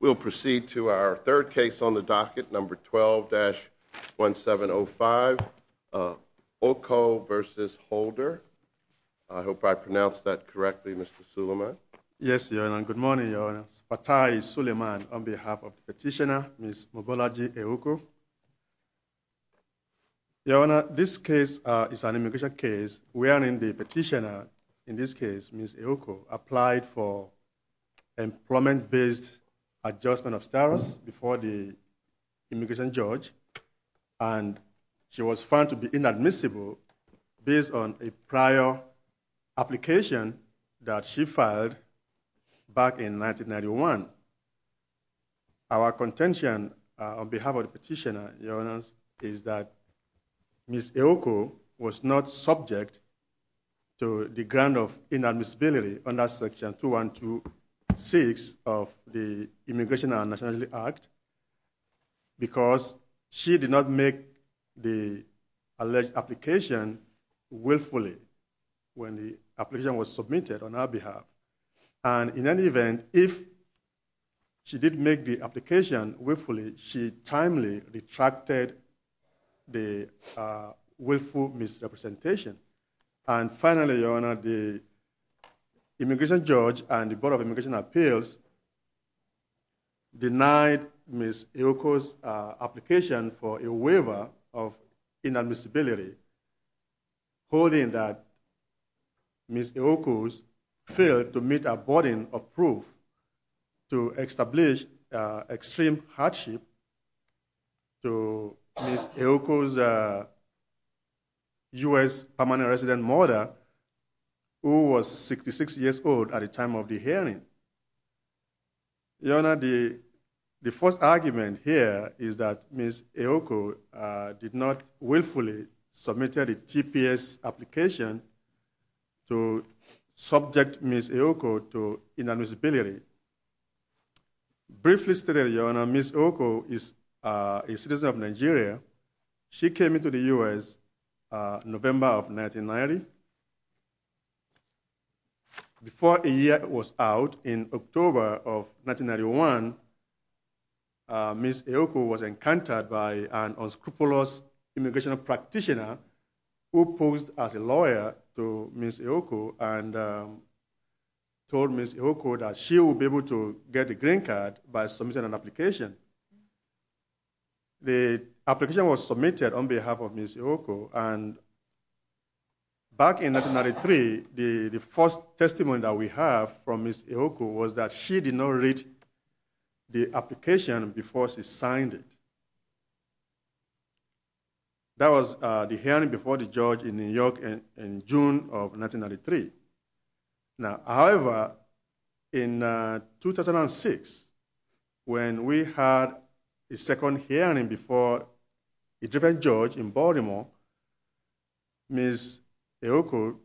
We'll proceed to our third case on the docket, number 12-1705, Oko v. Holder. I hope I pronounced that correctly, Mr. Suleiman. Yes, Your Honor. Good morning, Your Honor. Batai Suleiman on behalf of the petitioner, Ms. Mobolaji Aoko. Your Honor, this case is an immigration case wherein the petitioner, in this case Ms. Aoko, applied for employment-based adjustment of status before the immigration judge, and she was found to be inadmissible based on a prior application that she filed back in 1991. Our contention on behalf of the petitioner, Your Honor, is that Ms. Aoko was not subject to the grant of inadmissibility under Section 2126 of the Immigration and Nationality Act because she did not make the alleged application willfully when the application was submitted on our behalf. And in any event, if she did make the application willfully, she timely retracted the willful misrepresentation. And finally, Your Honor, the immigration judge and the Board of Immigration Appeals denied Ms. Aoko's application for a waiver of inadmissibility, holding that Ms. Aoko failed to meet a boarding of proof to establish extreme hardship to Ms. Aoko's U.S. permanent resident mother, who was 66 years old at the time of the hearing. Your Honor, the first argument here is that Ms. Aoko did not willfully submit a TPS application to subject Ms. Aoko to inadmissibility. Briefly stated, Your Honor, Ms. Aoko is a citizen of Nigeria. She came into the U.S. November of 1990. Before a year was out, in October of 1991, Ms. Aoko was encountered by an unscrupulous immigration practitioner who posed as a lawyer to Ms. Aoko and told Ms. Aoko that she would be able to get a green card by submitting an application. The application was submitted on behalf of Ms. Aoko. And back in 1993, the first testimony that we have from Ms. Aoko was that she did not read the application before she signed it. That was the hearing before the judge in New York in June of 1993. Now, however, in 2006, when we had a second hearing before a different judge in Baltimore, Ms. Aoko,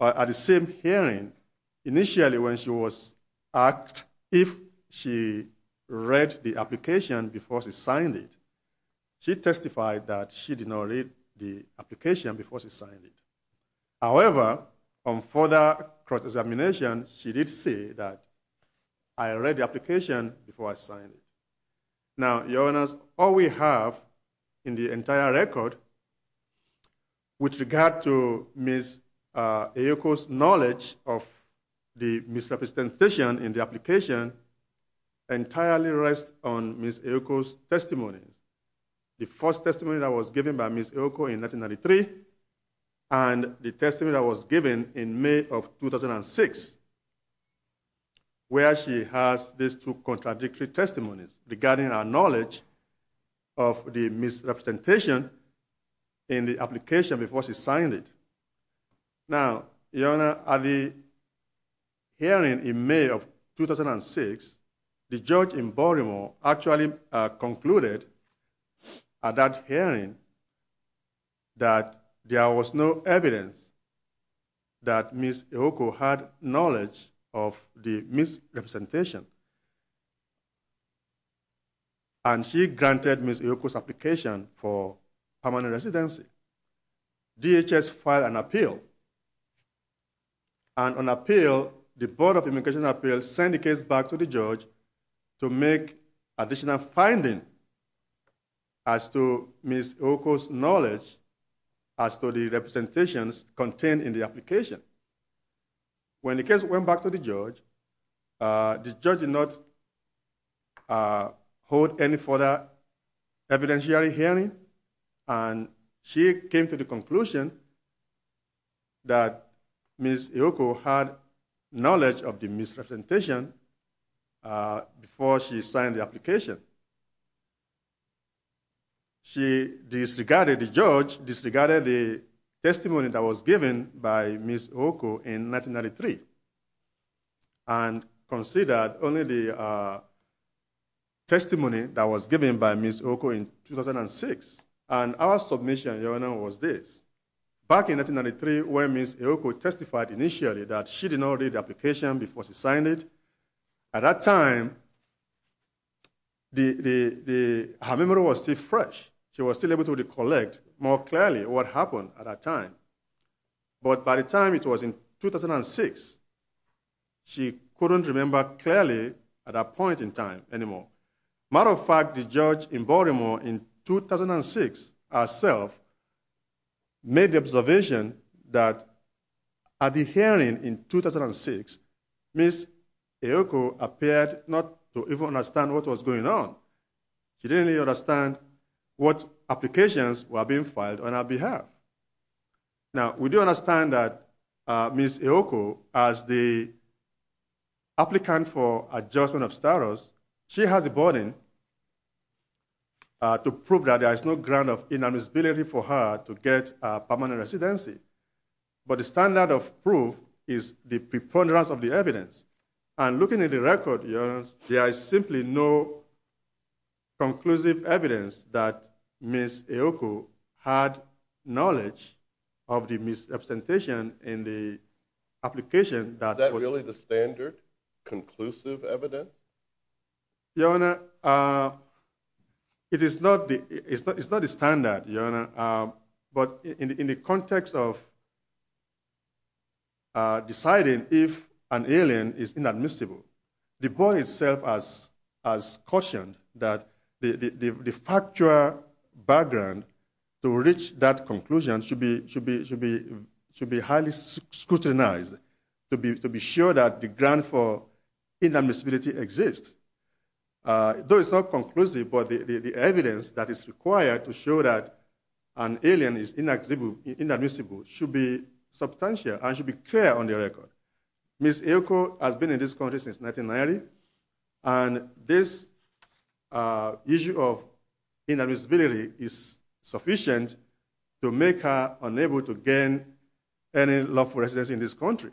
at the same hearing, initially when she was asked if she read the application before she signed it, she testified that she did not read the application before she signed it. However, on further cross-examination, she did say that, I read the application before I signed it. Now, Your Honor, all we have in the entire record with regard to Ms. Aoko's knowledge of the misrepresentation in the application entirely rests on Ms. Aoko's testimony. The first testimony that was given by Ms. Aoko in 1993 and the testimony that was given in May of 2006, where she has these two contradictory testimonies regarding her knowledge of the misrepresentation in the application before she signed it. Now, Your Honor, at the hearing in May of 2006, the judge in Baltimore actually concluded at that hearing that there was no evidence that Ms. Aoko had knowledge of the misrepresentation. And she granted Ms. Aoko's application for permanent residency. DHS filed an appeal, and on appeal, the Board of Immigration Appeals sent the case back to the judge to make additional findings as to Ms. Aoko's knowledge as to the representations contained in the application. When the case went back to the judge, the judge did not hold any further evidentiary hearing, and she came to the conclusion that Ms. Aoko had knowledge of the misrepresentation before she signed the application. She disregarded the judge, disregarded the testimony that was given by Ms. Aoko in 1993, and considered only the testimony that was given by Ms. Aoko in 2006. And our submission, Your Honor, was this. Back in 1993, when Ms. Aoko testified initially that she did not read the application before she signed it, at that time, her memory was still fresh. She was still able to recollect more clearly what happened at that time. But by the time it was in 2006, she couldn't remember clearly at that point in time anymore. As a matter of fact, the judge in Baltimore in 2006 herself made the observation that at the hearing in 2006, Ms. Aoko appeared not to even understand what was going on. She didn't understand what applications were being filed on her behalf. Now, we do understand that Ms. Aoko, as the applicant for adjustment of status, she has the burden to prove that there is no ground of inadmissibility for her to get permanent residency. But the standard of proof is the preponderance of the evidence. And looking at the record, Your Honor, there is simply no conclusive evidence that Ms. Aoko had knowledge of the misrepresentation in the application. Is that really the standard conclusive evidence? Your Honor, it is not the standard. But in the context of deciding if an alien is inadmissible, the board itself has cautioned that the factual background to reach that conclusion should be highly scrutinized to be sure that the ground for inadmissibility exists. Though it's not conclusive, but the evidence that is required to show that an alien is inadmissible should be substantial and should be clear on the record. Ms. Aoko has been in this country since 1990, and this issue of inadmissibility is sufficient to make her unable to gain any lawful residence in this country.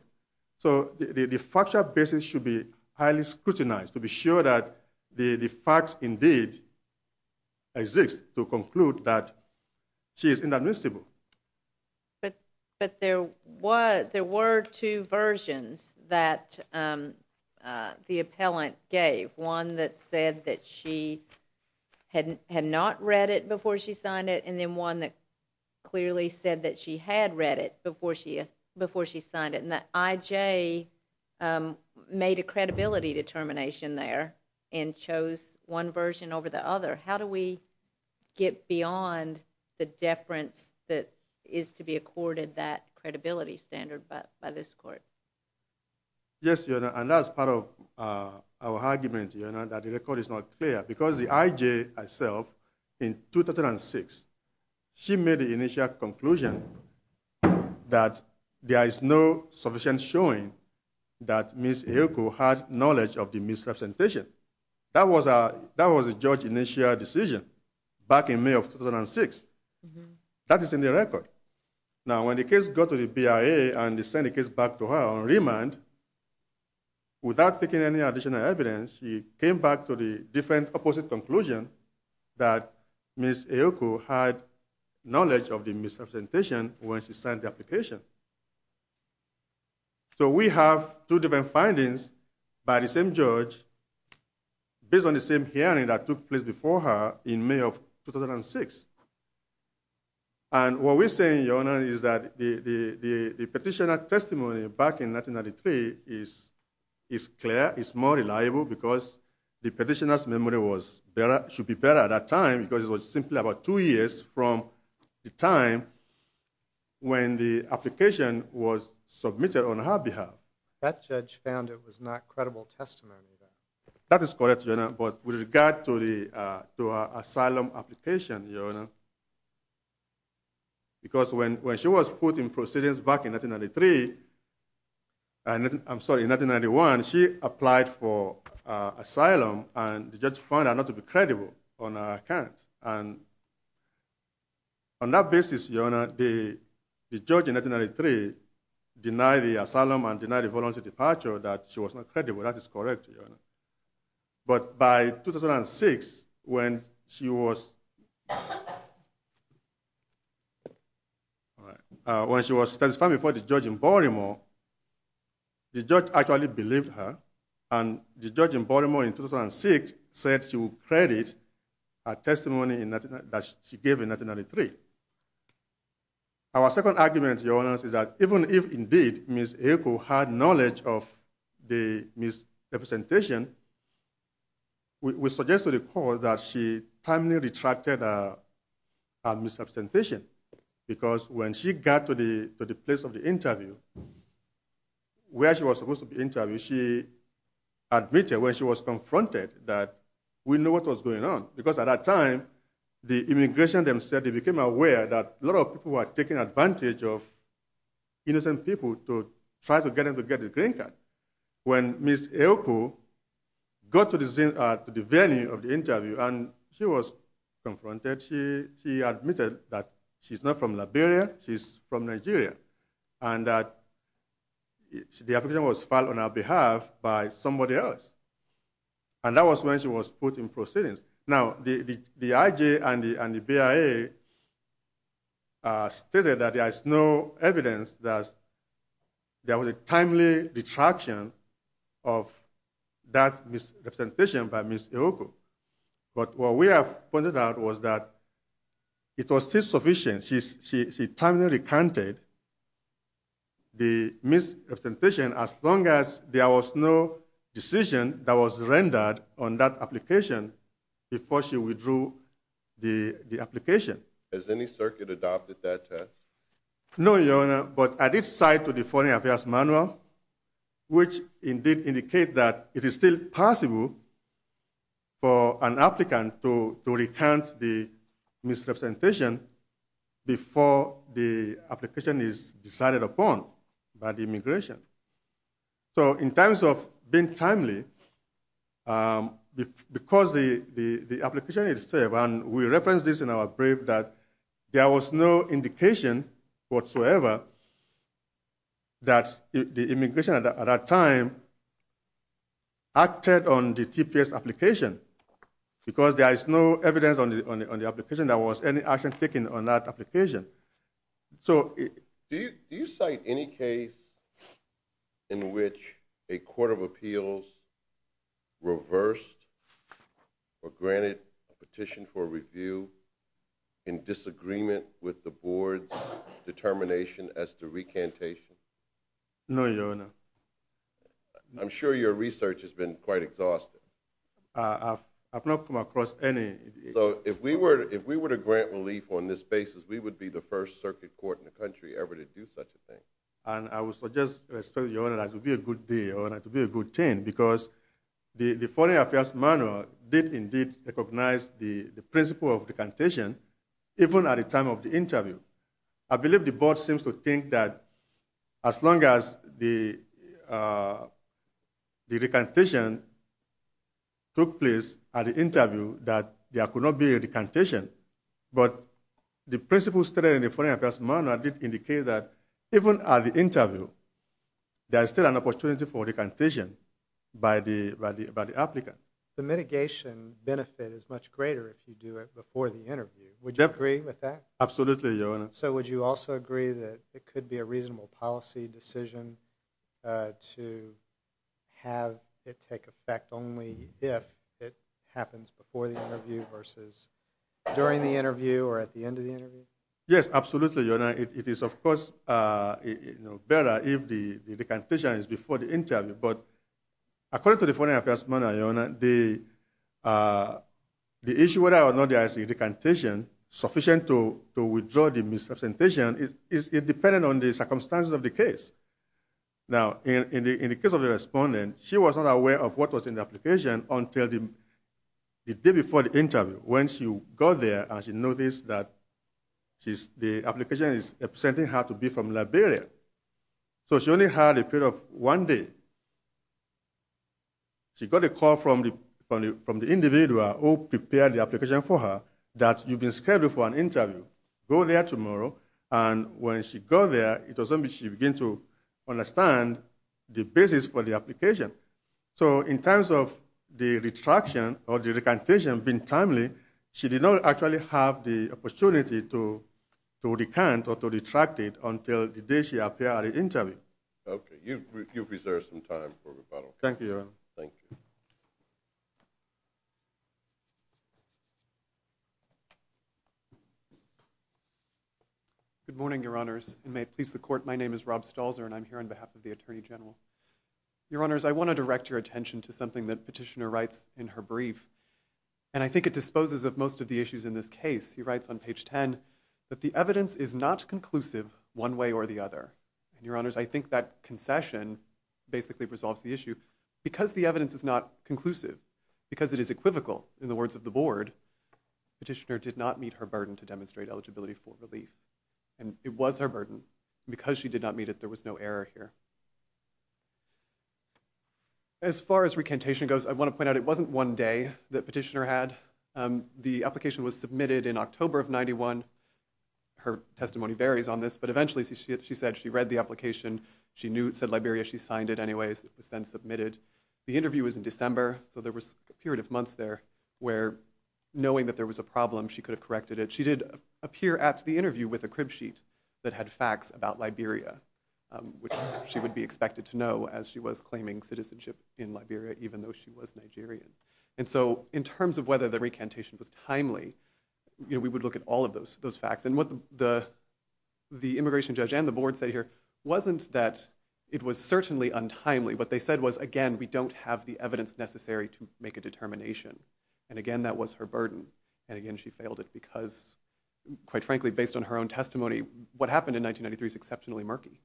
So the factual basis should be highly scrutinized to be sure that the facts indeed exist to conclude that she is inadmissible. But there were two versions that the appellant gave. One that said that she had not read it before she signed it, and then one that clearly said that she had read it before she signed it. And the I.J. made a credibility determination there and chose one version over the other. How do we get beyond the deference that is to be accorded that credibility standard by this court? Yes, Your Honor, and that's part of our argument, Your Honor, that the record is not clear. Because the I.J. herself, in 2006, she made the initial conclusion that there is no sufficient showing that Ms. Aoko had knowledge of the misrepresentation. That was a judge's initial decision back in May of 2006. That is in the record. Now, when the case got to the BIA and they sent the case back to her on remand, without taking any additional evidence, she came back to the different opposite conclusion that Ms. Aoko had knowledge of the misrepresentation when she signed the application. So we have two different findings by the same judge based on the same hearing that took place before her in May of 2006. And what we're saying, Your Honor, is that the petitioner's testimony back in 1993 is clear. It's more reliable because the petitioner's memory should be better at that time, because it was simply about two years from the time when the application was submitted on her behalf. That judge found it was not credible testimony. That is correct, Your Honor. But with regard to her asylum application, Your Honor, because when she was put in proceedings back in 1993, I'm sorry, in 1991, she applied for asylum and the judge found her not to be credible on her account. And on that basis, Your Honor, the judge in 1993 denied the asylum and denied the voluntary departure that she was not credible. That is correct, Your Honor. But by 2006, when she was – when she was – at the time before the judge in Baltimore, the judge actually believed her. And the judge in Baltimore in 2006 said she will credit her testimony that she gave in 1993. Our second argument, Your Honor, is that even if indeed Ms. Eko had knowledge of the misrepresentation, we suggest to the court that she timely retracted her misrepresentation, because when she got to the place of the interview, where she was supposed to be interviewed, she admitted when she was confronted that we knew what was going on. Because at that time, the immigration themselves became aware that a lot of people were taking advantage of innocent people to try to get them to get the green card. When Ms. Eko got to the venue of the interview and she was confronted, she admitted that she's not from Liberia, she's from Nigeria, and that the application was filed on her behalf by somebody else. And that was when she was put in proceedings. Now, the IG and the BIA stated that there is no evidence that there was a timely retraction of that misrepresentation by Ms. Eko. But what we have pointed out was that it was still sufficient. She timely recanted the misrepresentation as long as there was no decision that was rendered on that application before she withdrew the application. Has any circuit adopted that test? No, Your Honor, but I did cite the Foreign Affairs Manual, which indeed indicates that it is still possible for an applicant to recant the misrepresentation before the application is decided upon by the immigration. So in terms of being timely, because the application is safe, and we referenced this in our brief that there was no indication whatsoever that the immigration at that time acted on the TPS application, because there is no evidence on the application that there was any action taken on that application. Do you cite any case in which a court of appeals reversed or granted a petition for review in disagreement with the board's determination as to recantation? No, Your Honor. I'm sure your research has been quite exhaustive. I have not come across any. So if we were to grant relief on this basis, we would be the first circuit court in the country ever to do such a thing. And I would suggest, Your Honor, that would be a good thing, because the Foreign Affairs Manual did indeed recognize the principle of recantation, even at the time of the interview. I believe the board seems to think that as long as the recantation took place at the interview, that there could not be a recantation. But the principle stated in the Foreign Affairs Manual did indicate that even at the interview, there is still an opportunity for recantation by the applicant. The mitigation benefit is much greater if you do it before the interview. Would you agree with that? Absolutely, Your Honor. So would you also agree that it could be a reasonable policy decision to have it take effect only if it happens before the interview versus during the interview or at the end of the interview? Yes, absolutely, Your Honor. It is, of course, better if the recantation is before the interview. But according to the Foreign Affairs Manual, Your Honor, the issue whether or not there is a recantation sufficient to withdraw the misrepresentation is dependent on the circumstances of the case. Now, in the case of the respondent, she was not aware of what was in the application until the day before the interview. When she got there, she noticed that the application is representing her to be from Liberia. So she only had a period of one day. She got a call from the individual who prepared the application for her that you've been scheduled for an interview. Go there tomorrow. And when she goes there, it doesn't mean she begins to understand the basis for the application. So in terms of the retraction or the recantation being timely, she did not actually have the opportunity to recant or to retract it until the day she appeared at the interview. Okay. You've reserved some time for rebuttal. Thank you, Your Honor. Thank you. Good morning, Your Honors. And may it please the Court, my name is Rob Stalzer, and I'm here on behalf of the Attorney General. Your Honors, I want to direct your attention to something that Petitioner writes in her brief. And I think it disposes of most of the issues in this case. He writes on page 10 that the evidence is not conclusive one way or the other. And, Your Honors, I think that concession basically resolves the issue. Because the evidence is not conclusive, because it is equivocal in the words of the Board, Petitioner did not meet her burden to demonstrate eligibility for relief. And it was her burden. And because she did not meet it, there was no error here. As far as recantation goes, I want to point out it wasn't one day that Petitioner had. The application was submitted in October of 1991. Her testimony varies on this, but eventually she said she read the application. She knew, said Liberia, she signed it anyways. It was then submitted. The interview was in December, so there was a period of months there where, knowing that there was a problem, she could have corrected it. But she did appear at the interview with a crib sheet that had facts about Liberia, which she would be expected to know as she was claiming citizenship in Liberia, even though she was Nigerian. And so in terms of whether the recantation was timely, we would look at all of those facts. And what the immigration judge and the Board said here wasn't that it was certainly untimely. What they said was, again, we don't have the evidence necessary to make a determination. And, again, that was her burden. And, again, she failed it because, quite frankly, based on her own testimony, what happened in 1993 is exceptionally murky.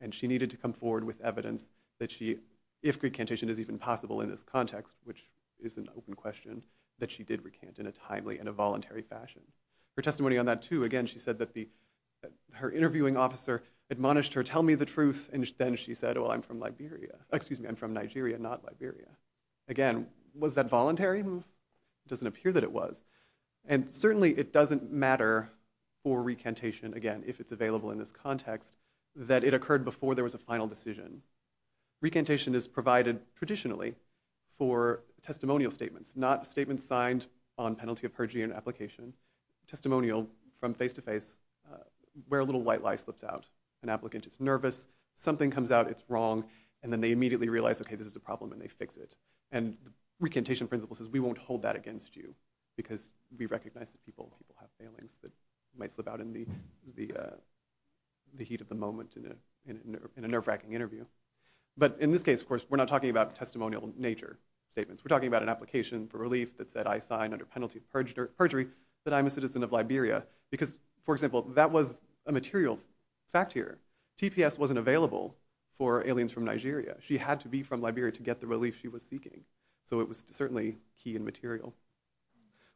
And she needed to come forward with evidence that she, if recantation is even possible in this context, which is an open question, that she did recant in a timely and a voluntary fashion. Her testimony on that, too, again, she said that her interviewing officer admonished her, tell me the truth. And then she said, well, I'm from Nigeria, not Liberia. Again, was that voluntary? It doesn't appear that it was. And certainly it doesn't matter for recantation, again, if it's available in this context, that it occurred before there was a final decision. Recantation is provided traditionally for testimonial statements, not statements signed on penalty of perjury in an application. Testimonial from face-to-face, where a little white lie slips out. An applicant is nervous, something comes out, it's wrong, and then they immediately realize, okay, this is a problem, and they fix it. And the recantation principle says, we won't hold that against you, because we recognize that people have failings that might slip out in the heat of the moment in a nerve-wracking interview. But in this case, of course, we're not talking about testimonial nature statements. We're talking about an application for relief that said, I sign under penalty of perjury that I'm a citizen of Liberia. Because, for example, that was a material fact here. TPS wasn't available for aliens from Nigeria. She had to be from Liberia to get the relief she was seeking. So it was certainly key and material.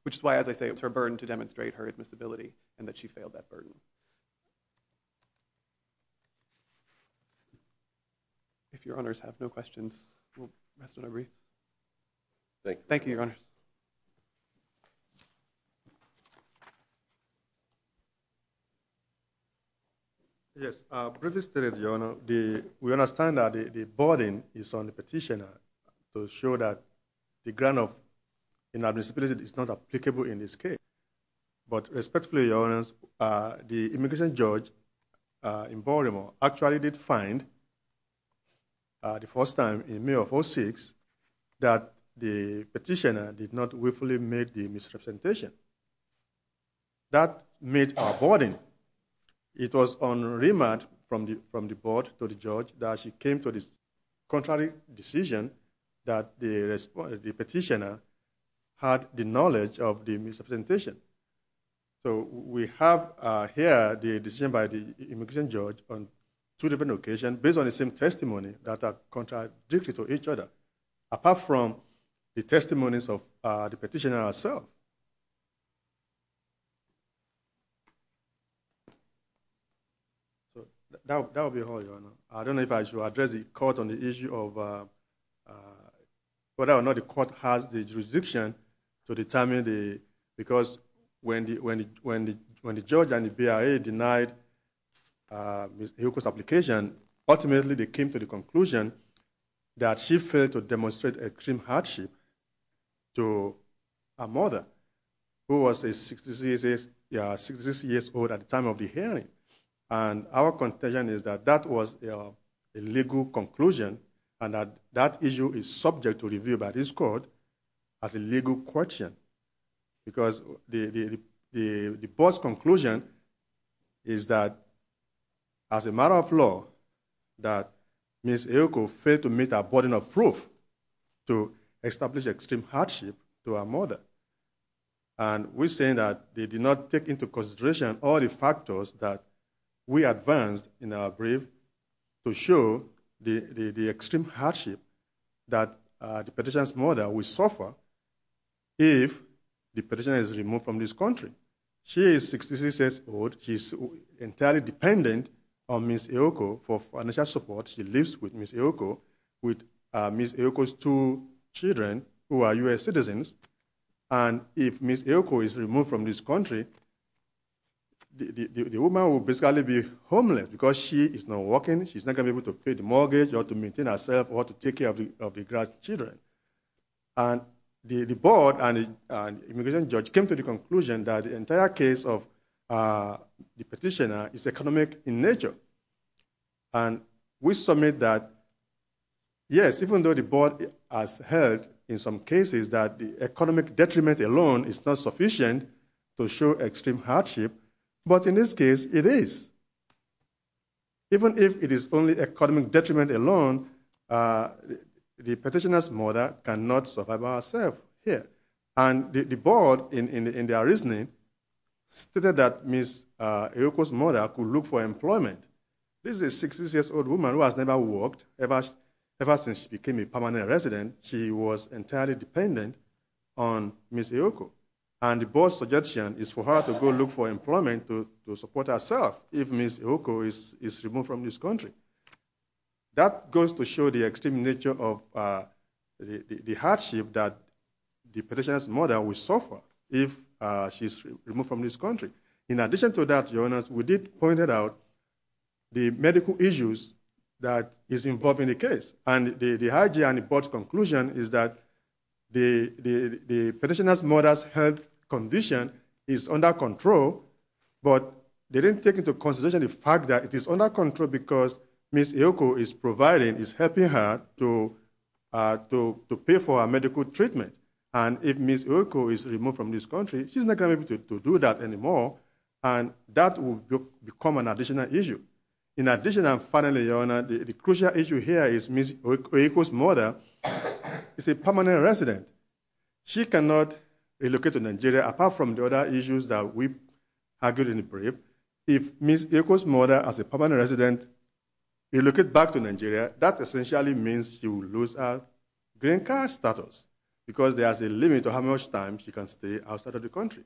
Which is why, as I say, it was her burden to demonstrate her admissibility, and that she failed that burden. If Your Honors have no questions, we'll rest it over here. Thank you, Your Honors. Yes, briefly stated, Your Honor, we understand that the burden is on the petitioner to show that the grant of inadmissibility is not applicable in this case. But respectfully, Your Honors, the immigration judge in Baltimore actually did find, the first time in May of 2006, that the petitioner did not willfully make the misrepresentation. That made our burden. It was on remand from the board to the judge that she came to this contrary decision that the petitioner had the knowledge of the misrepresentation. So we have here the decision by the immigration judge on two different occasions, based on the same testimony, that are contradictory to each other. Apart from the testimonies of the petitioner herself. That will be all, Your Honor. I don't know if I should address the court on the issue of whether or not the court has the jurisdiction to determine the, because when the judge and the BIA denied the application, ultimately they came to the conclusion that she failed to demonstrate extreme hardship to a mother who was 66 years old at the time of the hearing. And our contention is that that was a legal conclusion, and that that issue is subject to review by this court as a legal question. Because the board's conclusion is that, as a matter of law, that Ms. Eoko failed to meet our burden of proof to establish extreme hardship to her mother. And we're saying that they did not take into consideration all the factors that we advanced in our brief to show the extreme hardship that the petitioner's mother would suffer if the petitioner is removed from this country. She is 66 years old. She's entirely dependent on Ms. Eoko for financial support. She lives with Ms. Eoko, with Ms. Eoko's two children, who are U.S. citizens. And if Ms. Eoko is removed from this country, the woman will basically be homeless because she is not working, she's not going to be able to pay the mortgage, or to maintain herself, or to take care of the grandchildren. And the board and immigration judge came to the conclusion that the entire case of the petitioner is economic in nature. And we submit that, yes, even though the board has heard in some cases that the economic detriment alone is not sufficient to show extreme hardship, but in this case, it is. Even if it is only economic detriment alone, the petitioner's mother cannot survive by herself here. And the board, in their reasoning, stated that Ms. Eoko's mother could look for employment. This is a 66-year-old woman who has never worked. Ever since she became a permanent resident, she was entirely dependent on Ms. Eoko. And the board's suggestion is for her to go look for employment to support herself if Ms. Eoko is removed from this country. That goes to show the extreme nature of the hardship that the petitioner's mother will suffer if she is removed from this country. In addition to that, your Honor, we did point out the medical issues that is involved in the case. And the IG and the board's conclusion is that the petitioner's mother's health condition is under control, but they didn't take into consideration the fact that it is under control because Ms. Eoko is providing, is helping her to pay for her medical treatment. And if Ms. Eoko is removed from this country, she's not going to be able to do that anymore, and that will become an additional issue. In addition, and finally, your Honor, the crucial issue here is Ms. Eoko's mother is a permanent resident. She cannot relocate to Nigeria apart from the other issues that we argued in the brief. If Ms. Eoko's mother, as a permanent resident, relocates back to Nigeria, that essentially means she will lose her green card status because there is a limit to how much time she can stay outside of the country.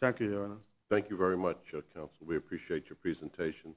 Thank you, your Honor. Thank you very much, counsel. We appreciate your presentation.